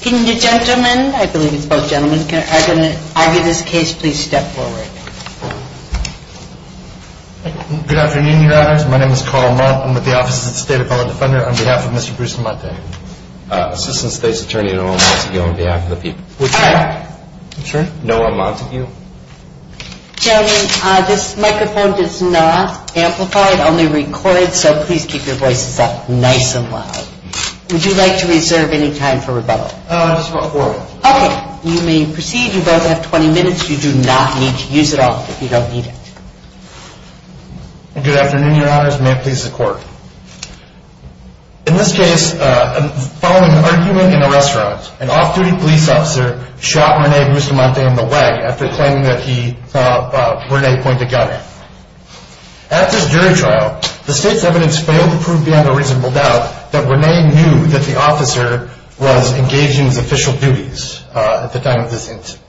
Can the gentleman, I believe it's both gentlemen, can argue this case please step forward. Good afternoon, your honors. My name is Carl Mott. I'm with the Office of the State Appellate Defender on behalf of Mr. Bustamante. Assistant State's Attorney Noah Montague on behalf of the people. Would you mind? I'm sorry? Noah Montague. Gentlemen, this microphone does not amplify, it only records, so please keep your voices up nice and loud. Would you like to reserve any time for rebuttal? Just about four minutes. Okay, you may proceed. You both have 20 minutes. You do not need to use it all if you don't need it. Good afternoon, your honors. May it please the court. In this case, following an argument in a restaurant, an off-duty police officer shot Rene Bustamante in the leg after claiming that he saw Rene point a gun at him. After his jury trial, the state's evidence failed to prove beyond a reasonable doubt that Rene knew that the officer was engaged in his official duties at the time of his incident.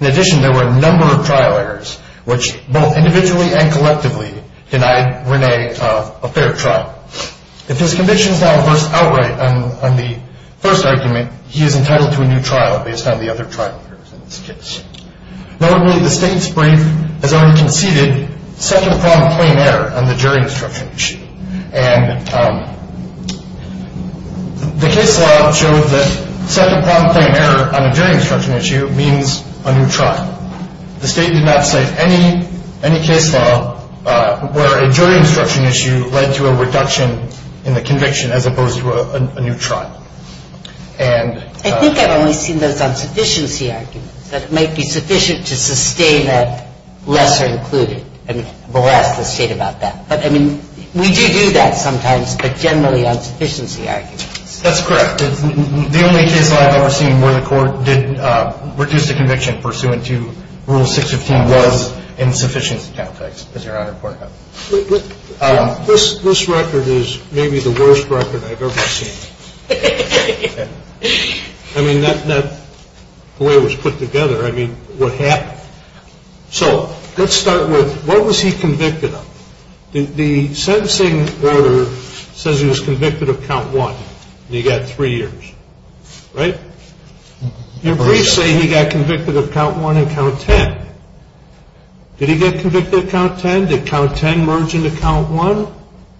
In addition, there were a number of trial errors, which both individually and collectively denied Rene a fair trial. If his conviction is not reversed outright on the first argument, he is entitled to a new trial based on the other trial errors in this case. Notably, the state's brief has already conceded second-pronged plain error on the jury instruction issue. And the case law showed that second-pronged plain error on a jury instruction issue means a new trial. The state did not cite any case law where a jury instruction issue led to a reduction in the conviction as opposed to a new trial. I think I've only seen those on sufficiency arguments, that it might be sufficient to sustain that lesser included. And we'll ask the state about that. But, I mean, we do do that sometimes, but generally on sufficiency arguments. That's correct. The only case law I've ever seen where the court did reduce the conviction pursuant to Rule 615 was in sufficiency context, as Your Honor pointed out. This record is maybe the worst record I've ever seen. I mean, that's not the way it was put together. I mean, what happened? So, let's start with what was he convicted of? The sentencing order says he was convicted of count one, and he got three years, right? Your briefs say he got convicted of count one and count ten. Did he get convicted of count ten? Did count ten merge into count one?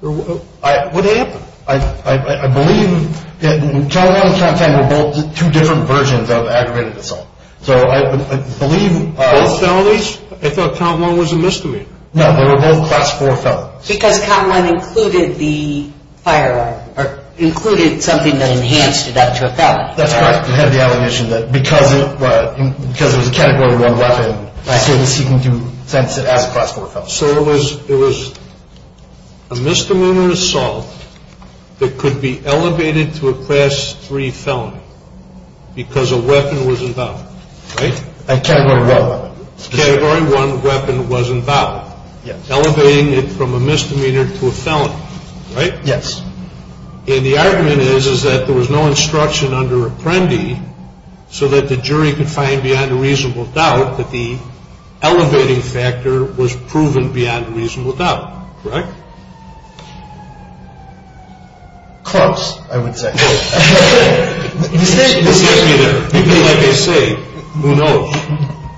What happened? I believe that count one and count ten were both two different versions of aggravated assault. So, I believe both felonies, I thought count one was a misdemeanor. No, they were both class four felonies. Because count one included the firearm, or included something that enhanced it up to a felony. That's correct. It had the allegation that because it was a category one weapon, he was seeking to sentence it as a class four felony. So, it was a misdemeanor assault that could be elevated to a class three felony because a weapon was involved, right? A category one weapon. A category one weapon was involved. Yes. Elevating it from a misdemeanor to a felony, right? Yes. And the argument is that there was no instruction under Apprendi so that the jury could find beyond a reasonable doubt that the elevating factor was proven beyond a reasonable doubt, correct? Close, I would say. Excuse me there. Like I say, who knows?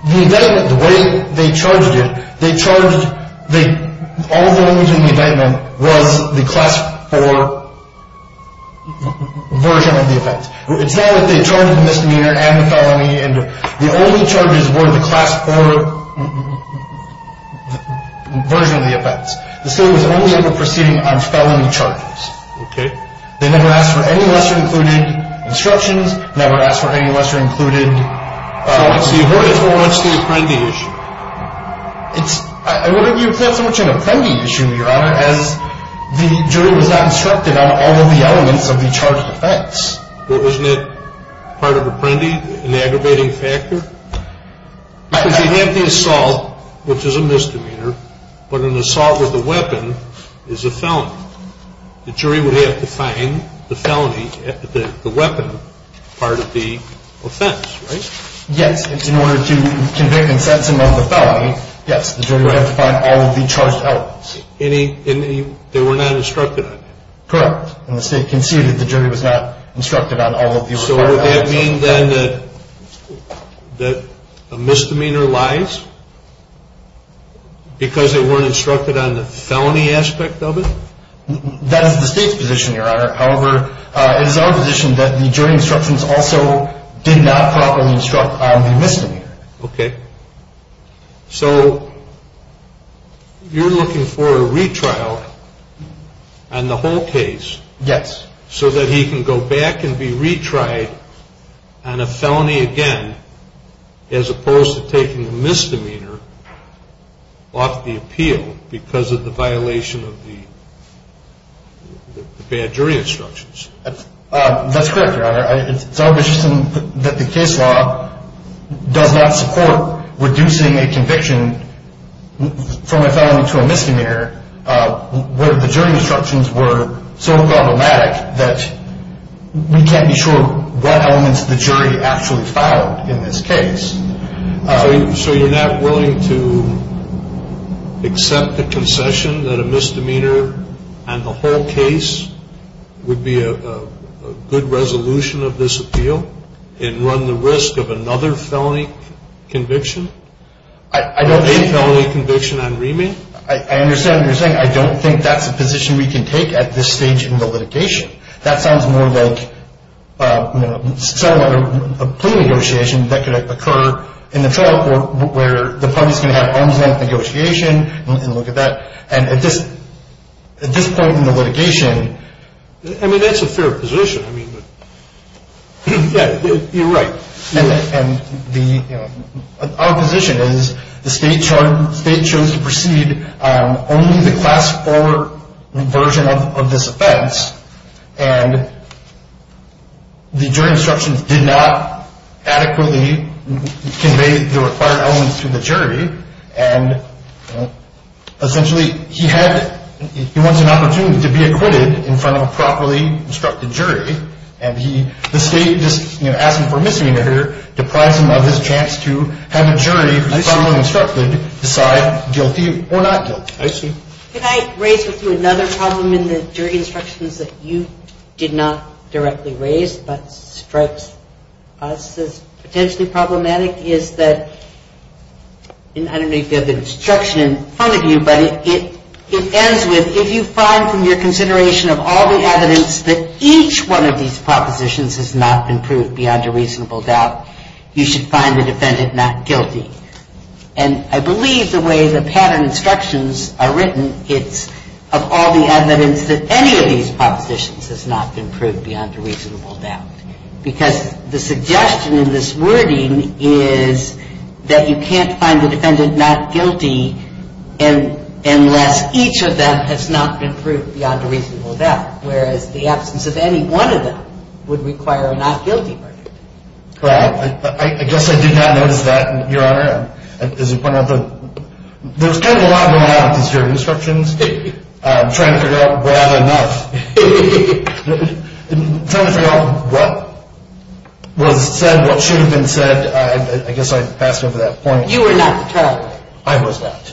The way they charged it, they charged all felonies in the indictment was the class four version of the offense. It's not that they charged the misdemeanor and the felony. The only charges were the class four version of the offense. The state was only able to proceed on felony charges. Okay. They never asked for any lesser-included instructions, never asked for any lesser-included… So, what's the Apprendi issue? It's… You've got so much on the Apprendi issue, Your Honor, as the jury was not instructed on all of the elements of the charged offense. Well, isn't that part of Apprendi, an aggravating factor? Because you have the assault, which is a misdemeanor, but an assault with a weapon is a felony. The jury would have to find the felony, the weapon part of the offense, right? Yes. In order to convict and sentence him of the felony, yes. The jury would have to find all of the charged elements. And they were not instructed on that? Correct. And the state conceded the jury was not instructed on all of the… So, would that mean, then, that a misdemeanor lies because they weren't instructed on the felony aspect of it? That is the state's position, Your Honor. However, it is our position that the jury instructions also did not properly instruct on the misdemeanor. Okay. So, you're looking for a retrial on the whole case… Yes. …so that he can go back and be retried on a felony again, as opposed to taking the misdemeanor off the appeal because of the violation of the bad jury instructions. That's correct, Your Honor. It's our position that the case law does not support reducing a conviction from a felony to a misdemeanor, where the jury instructions were so problematic that we can't be sure what elements the jury actually filed in this case. So, you're not willing to accept the concession that a misdemeanor on the whole case would be a good resolution of this appeal and run the risk of another felony conviction? I don't think… A felony conviction on remand? I understand what you're saying. I don't think that's a position we can take at this stage in the litigation. That sounds more like a plea negotiation that could occur in the trial court where the parties can have arms-length negotiation and look at that. And at this point in the litigation… I mean, that's a fair position. Yeah, you're right. Our position is the State chose to proceed on only the Class 4 version of this offense and the jury instructions did not adequately convey the required elements to the jury. And essentially, he wants an opportunity to be acquitted in front of a properly instructed jury. And the State just asked him for a misdemeanor here, deprives him of his chance to have a jury who is properly instructed decide guilty or not guilty. I see. Can I raise with you another problem in the jury instructions that you did not directly raise but strikes us as potentially problematic? Is that, I don't know if you have the instruction in front of you, but it ends with if you find from your consideration of all the evidence that each one of these propositions has not been proved beyond a reasonable doubt, you should find the defendant not guilty. And I believe the way the pattern instructions are written, it's of all the evidence that any of these propositions has not been proved beyond a reasonable doubt. Because the suggestion in this wording is that you can't find the defendant not guilty unless each of them has not been proved beyond a reasonable doubt. Whereas the absence of any one of them would require a not guilty verdict. Well, I guess I did not notice that, Your Honor. As you pointed out, there's kind of a lot going on with these jury instructions. I'm trying to figure out what was said, what should have been said. I guess I passed over that point. You were not the trial lawyer. I was not.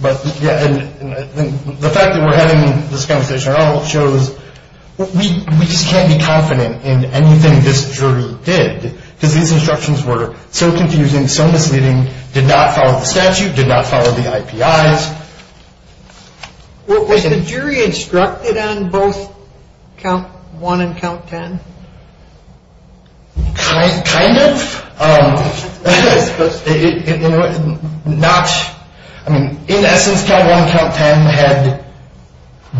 The fact that we're having this conversation at all shows we just can't be confident in anything this jury did. Because these instructions were so confusing, so misleading, did not follow the statute, did not follow the IPIs. Was the jury instructed on both count one and count ten? Kind of. In essence, count one and count ten had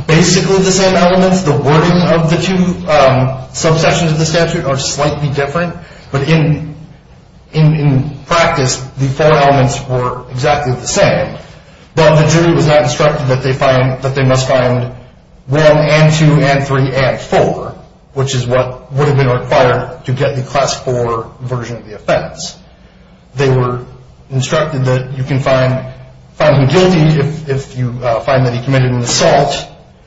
basically the same elements. The wording of the two subsections of the statute are slightly different. But in practice, the four elements were exactly the same. But the jury was not instructed that they must find one and two and three and four, which is what would have been required to get the class four version of the offense. They were instructed that you can find him guilty if you find that he committed an assault,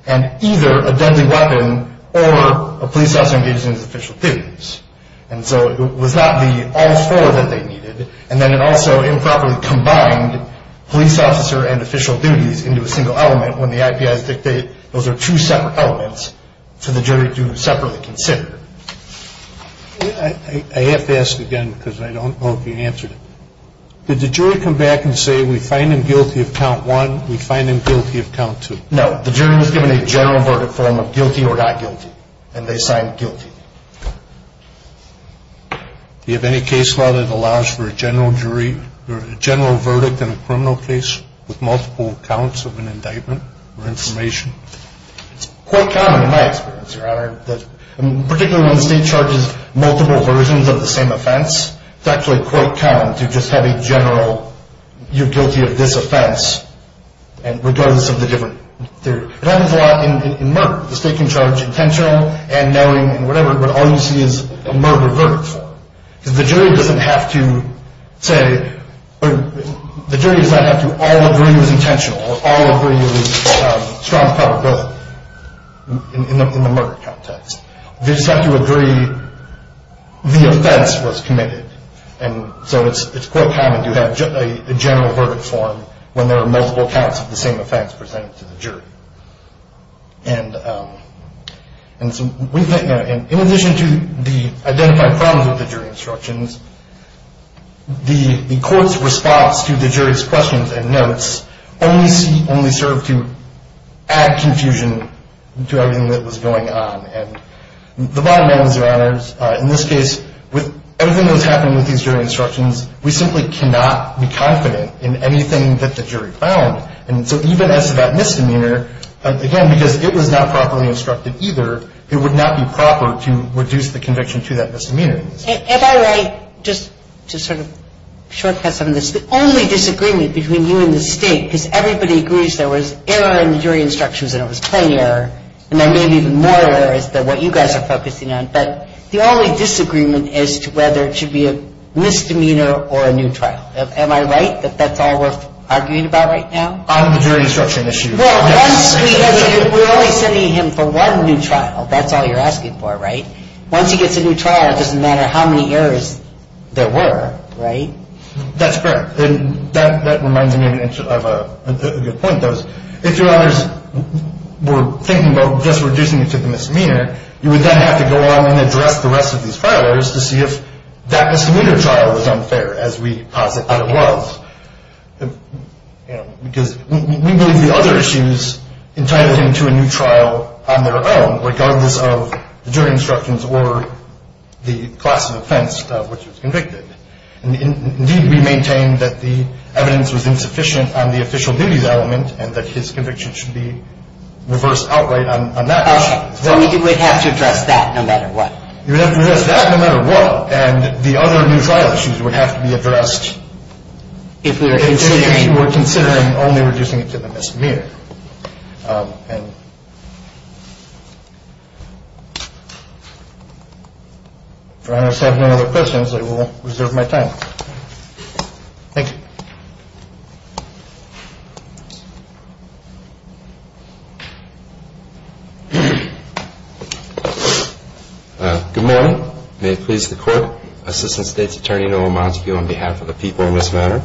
and either a deadly weapon or a police officer engaged in his official duties. And so it was not the all four that they needed. And then it also improperly combined police officer and official duties into a single element. When the IPIs dictate those are two separate elements for the jury to separately consider. I have to ask again because I don't know if you answered it. Did the jury come back and say we find him guilty of count one, we find him guilty of count two? No. The jury was given a general verdict form of guilty or not guilty, and they signed guilty. Do you have any case law that allows for a general verdict in a criminal case with multiple counts of an indictment? It's quite common in my experience, Your Honor, particularly when the state charges multiple versions of the same offense, it's actually quite common to just have a general you're guilty of this offense regardless of the different theory. It happens a lot in murder. The state can charge intentional and knowing and whatever, but all you see is a murder verdict form. The jury doesn't have to all agree it was intentional or all agree it was strong probability in the murder context. They just have to agree the offense was committed. And so it's quite common to have a general verdict form when there are multiple counts of the same offense presented to the jury. And in addition to the identified problems with the jury instructions, the court's response to the jury's questions and notes only served to add confusion to everything that was going on. And the bottom line is, Your Honors, in this case, with everything that was happening with these jury instructions, we simply cannot be confident in anything that the jury found. And so even as to that misdemeanor, again, because it was not properly instructed either, it would not be proper to reduce the conviction to that misdemeanor. Am I right, just to sort of shortcut some of this, the only disagreement between you and the state, because everybody agrees there was error in the jury instructions and it was plain error, and then maybe even more error is what you guys are focusing on, but the only disagreement as to whether it should be a misdemeanor or a new trial. Am I right that that's all we're arguing about right now? On the jury instruction issue, yes. Well, we're only sending him for one new trial. That's all you're asking for, right? Once he gets a new trial, it doesn't matter how many errors there were, right? That's correct. And that reminds me of a good point. If Your Honors were thinking about just reducing it to the misdemeanor, you would then have to go along and address the rest of these file errors to see if that misdemeanor trial was unfair, as we posit that it was. Because we believe the other issues entitled him to a new trial on their own, regardless of the jury instructions or the class of offense of which he was convicted. Indeed, we maintain that the evidence was insufficient on the official duties element and that his conviction should be reversed outright on that issue. Right. So he would have to address that no matter what. He would have to address that no matter what. And the other new trial issues would have to be addressed if we were considering only reducing it to the misdemeanor. If Your Honors have no other questions, I will reserve my time. Thank you. Good morning. May it please the Court. Assistant State's Attorney Noah Montague on behalf of the people in this matter.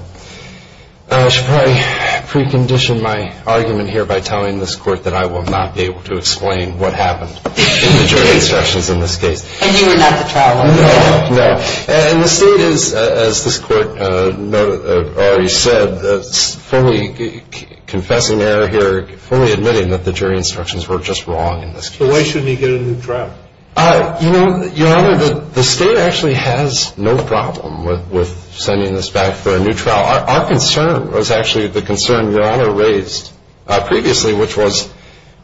I should probably precondition my argument here by telling this Court that I will not be able to explain what happened in the jury instructions in this case. And you were not the trial lawyer? No. And the State is, as this Court already said, fully confessing error here, fully admitting that the jury instructions were just wrong in this case. So why shouldn't he get a new trial? You know, Your Honor, the State actually has no problem with sending this back for a new trial. Our concern was actually the concern Your Honor raised previously, which was,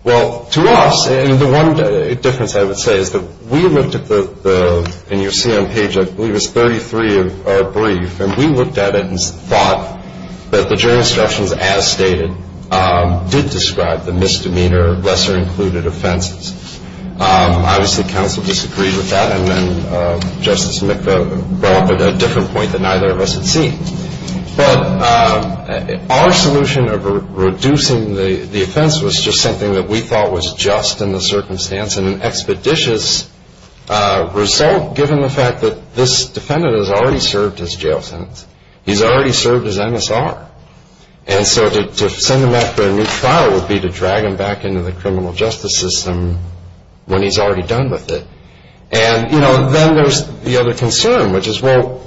well, to us. The one difference I would say is that we looked at the, and you'll see on page I believe it's 33 of our brief, and we looked at it and thought that the jury instructions as stated did describe the misdemeanor, lesser included offenses. Obviously, counsel disagreed with that, and then Justice Mikva brought up a different point that neither of us had seen. But our solution of reducing the offense was just something that we thought was just in the circumstance and an expeditious result given the fact that this defendant has already served his jail sentence. He's already served his MSR. And so to send him back for a new trial would be to drag him back into the criminal justice system when he's already done with it. And, you know, then there's the other concern, which is, well,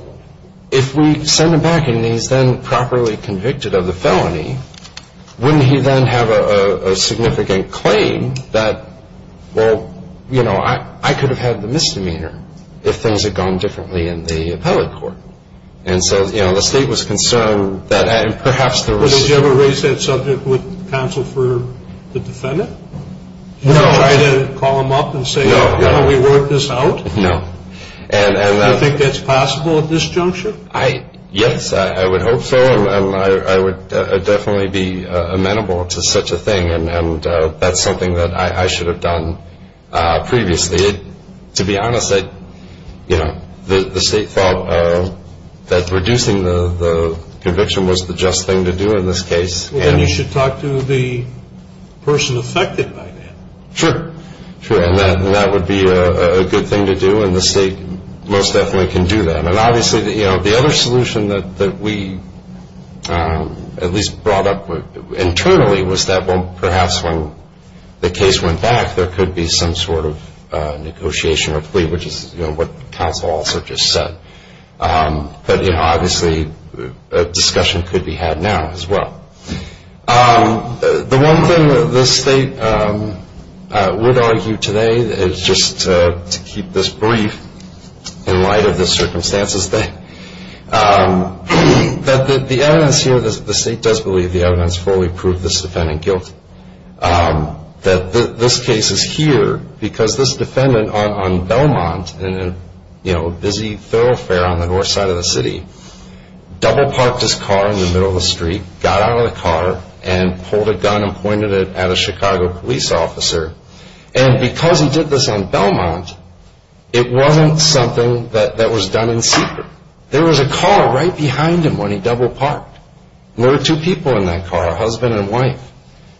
if we send him back and he's then properly convicted of the felony, wouldn't he then have a significant claim that, well, you know, I could have had the misdemeanor if things had gone differently in the appellate court? And so, you know, the State was concerned that perhaps there was. But did you ever raise that subject with counsel for the defendant? No. Did you try to call him up and say, you know, we worked this out? No. Do you think that's possible at this juncture? Yes, I would hope so, and I would definitely be amenable to such a thing. And that's something that I should have done previously. To be honest, you know, the State thought that reducing the conviction was the just thing to do in this case. Well, then you should talk to the person affected by that. Sure. Sure, and that would be a good thing to do, and the State most definitely can do that. And obviously, you know, the other solution that we at least brought up internally was that, well, perhaps when the case went back there could be some sort of negotiation or plea, which is what counsel also just said. But, you know, obviously a discussion could be had now as well. The one thing that the State would argue today is just to keep this brief in light of the circumstances, that the evidence here, the State does believe the evidence fully proved this defendant guilty. That this case is here because this defendant on Belmont in a, you know, busy thoroughfare on the north side of the city, double parked his car in the middle of the street, got out of the car, and pulled a gun and pointed it at a Chicago police officer. And because he did this on Belmont, it wasn't something that was done in secret. There was a car right behind him when he double parked, and there were two people in that car, a husband and wife.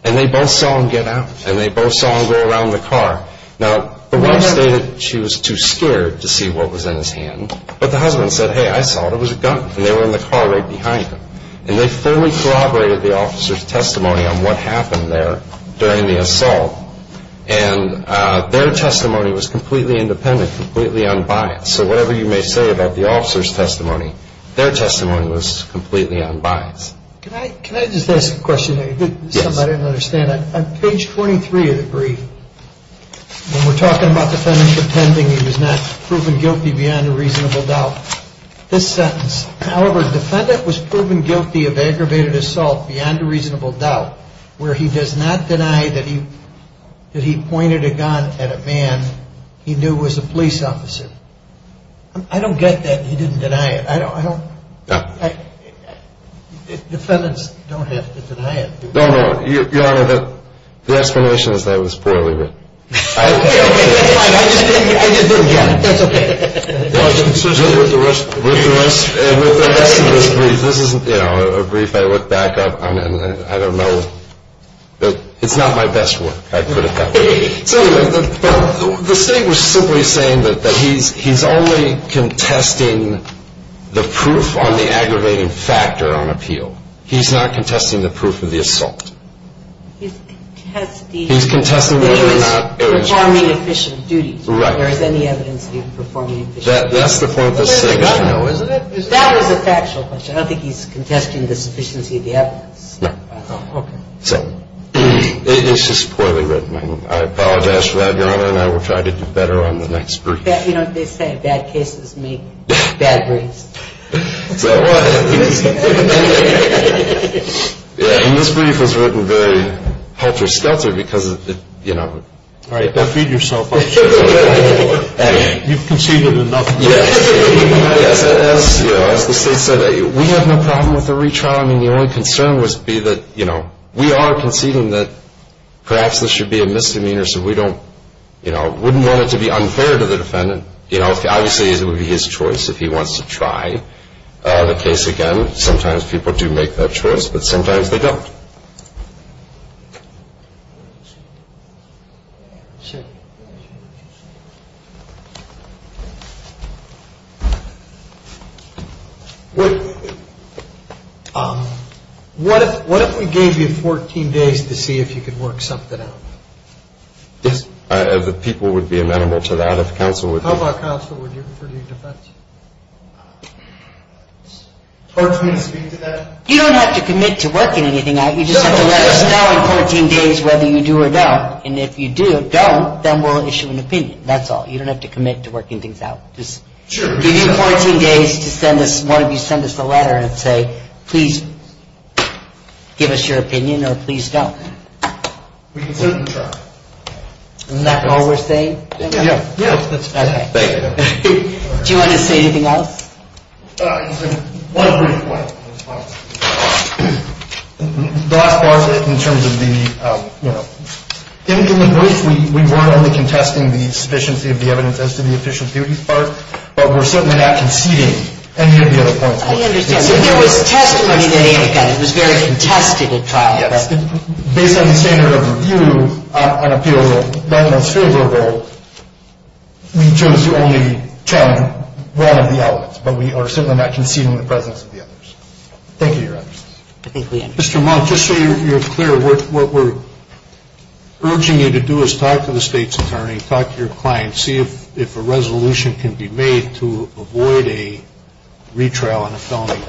And they both saw him get out, and they both saw him go around the car. Now, the wife stated she was too scared to see what was in his hand. But the husband said, hey, I saw it, it was a gun, and they were in the car right behind him. And they fully corroborated the officer's testimony on what happened there during the assault. And their testimony was completely independent, completely unbiased. So whatever you may say about the officer's testimony, their testimony was completely unbiased. Can I just ask a question? Yes. Something I didn't understand. On page 23 of the brief, when we're talking about the defendant pretending he was not proven guilty beyond a reasonable doubt, this sentence, however, defendant was proven guilty of aggravated assault beyond a reasonable doubt, where he does not deny that he pointed a gun at a man he knew was a police officer. I don't get that he didn't deny it. I don't. Defendants don't have to deny it. No, no. Your Honor, the explanation is that it was poorly written. Okay, okay, that's fine. I just didn't get it. That's okay. With the rest of this brief, this isn't, you know, a brief. I look back on it, and I don't know. It's not my best work, I put it that way. The state was simply saying that he's only contesting the proof on the aggravating factor on appeal. He's not contesting the proof of the assault. He's contesting whether or not it was performing efficient duties. Right. There is any evidence that he was performing efficient duties. That's the point the state got, though, isn't it? That was a factual question. I don't think he's contesting the sufficiency of the evidence. No. Okay. So it's just poorly written. I apologize for that, Your Honor, and I will try to do better on the next brief. You know, they say bad cases make bad briefs. So what? Yeah, and this brief was written very helter-skelter because, you know. All right, go feed yourself up. You've conceded enough. Yes. As the state said, we have no problem with the retrial. I mean, the only concern would be that, you know, we are conceding that perhaps this should be a misdemeanor so we don't, you know, wouldn't want it to be unfair to the defendant. You know, obviously it would be his choice if he wants to try the case again. Sometimes people do make that choice, but sometimes they don't. What if we gave you 14 days to see if you could work something out? Yes. The people would be amenable to that if counsel would be. How about counsel would you, for your defense? Do you want me to speak to that? You don't have to commit to working anything out. You just have to let us know in 14 days whether you do or don't. And if you do or don't, then we'll issue an opinion. That's all. You don't have to commit to working things out. Just give you 14 days to send us, one of you send us a letter and say, please give us your opinion or please don't. We can certainly try. Isn't that all we're saying? Yeah. Okay. Do you want to say anything else? One brief point in response. The last part is in terms of the, you know, in the brief, we weren't only contesting the sufficiency of the evidence as to the efficient duty part, but we're certainly not conceding any of the other points. I understand. So there was testimony that he had gotten. It was very contested at times. Yes. Based on the standard of review on appeals of that most favorable, we chose to only challenge one of the elements, but we are certainly not conceding the presence of the others. Thank you, Your Honor. Mr. Monk, just so you're clear, what we're urging you to do is talk to the state's attorney, talk to your client, see if a resolution can be made to avoid a retrial on a felony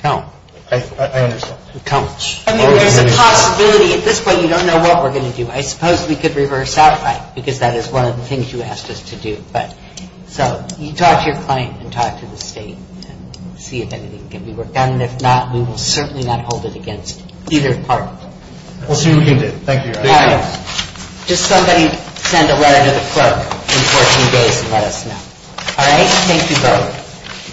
count. I understand. I mean, there's a possibility. At this point, you don't know what we're going to do. I suppose we could reverse outright because that is one of the things you asked us to do. So you talk to your client and talk to the state and see if anything can be worked out, and if not, we will certainly not hold it against either party. We'll see what we can do. Thank you, Your Honor. All right. Just somebody send a letter to the clerk in 14 days and let us know. All right? Thank you both.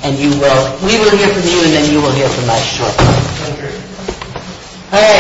And we will hear from you, and then you will hear from us shortly. Thank you. All right.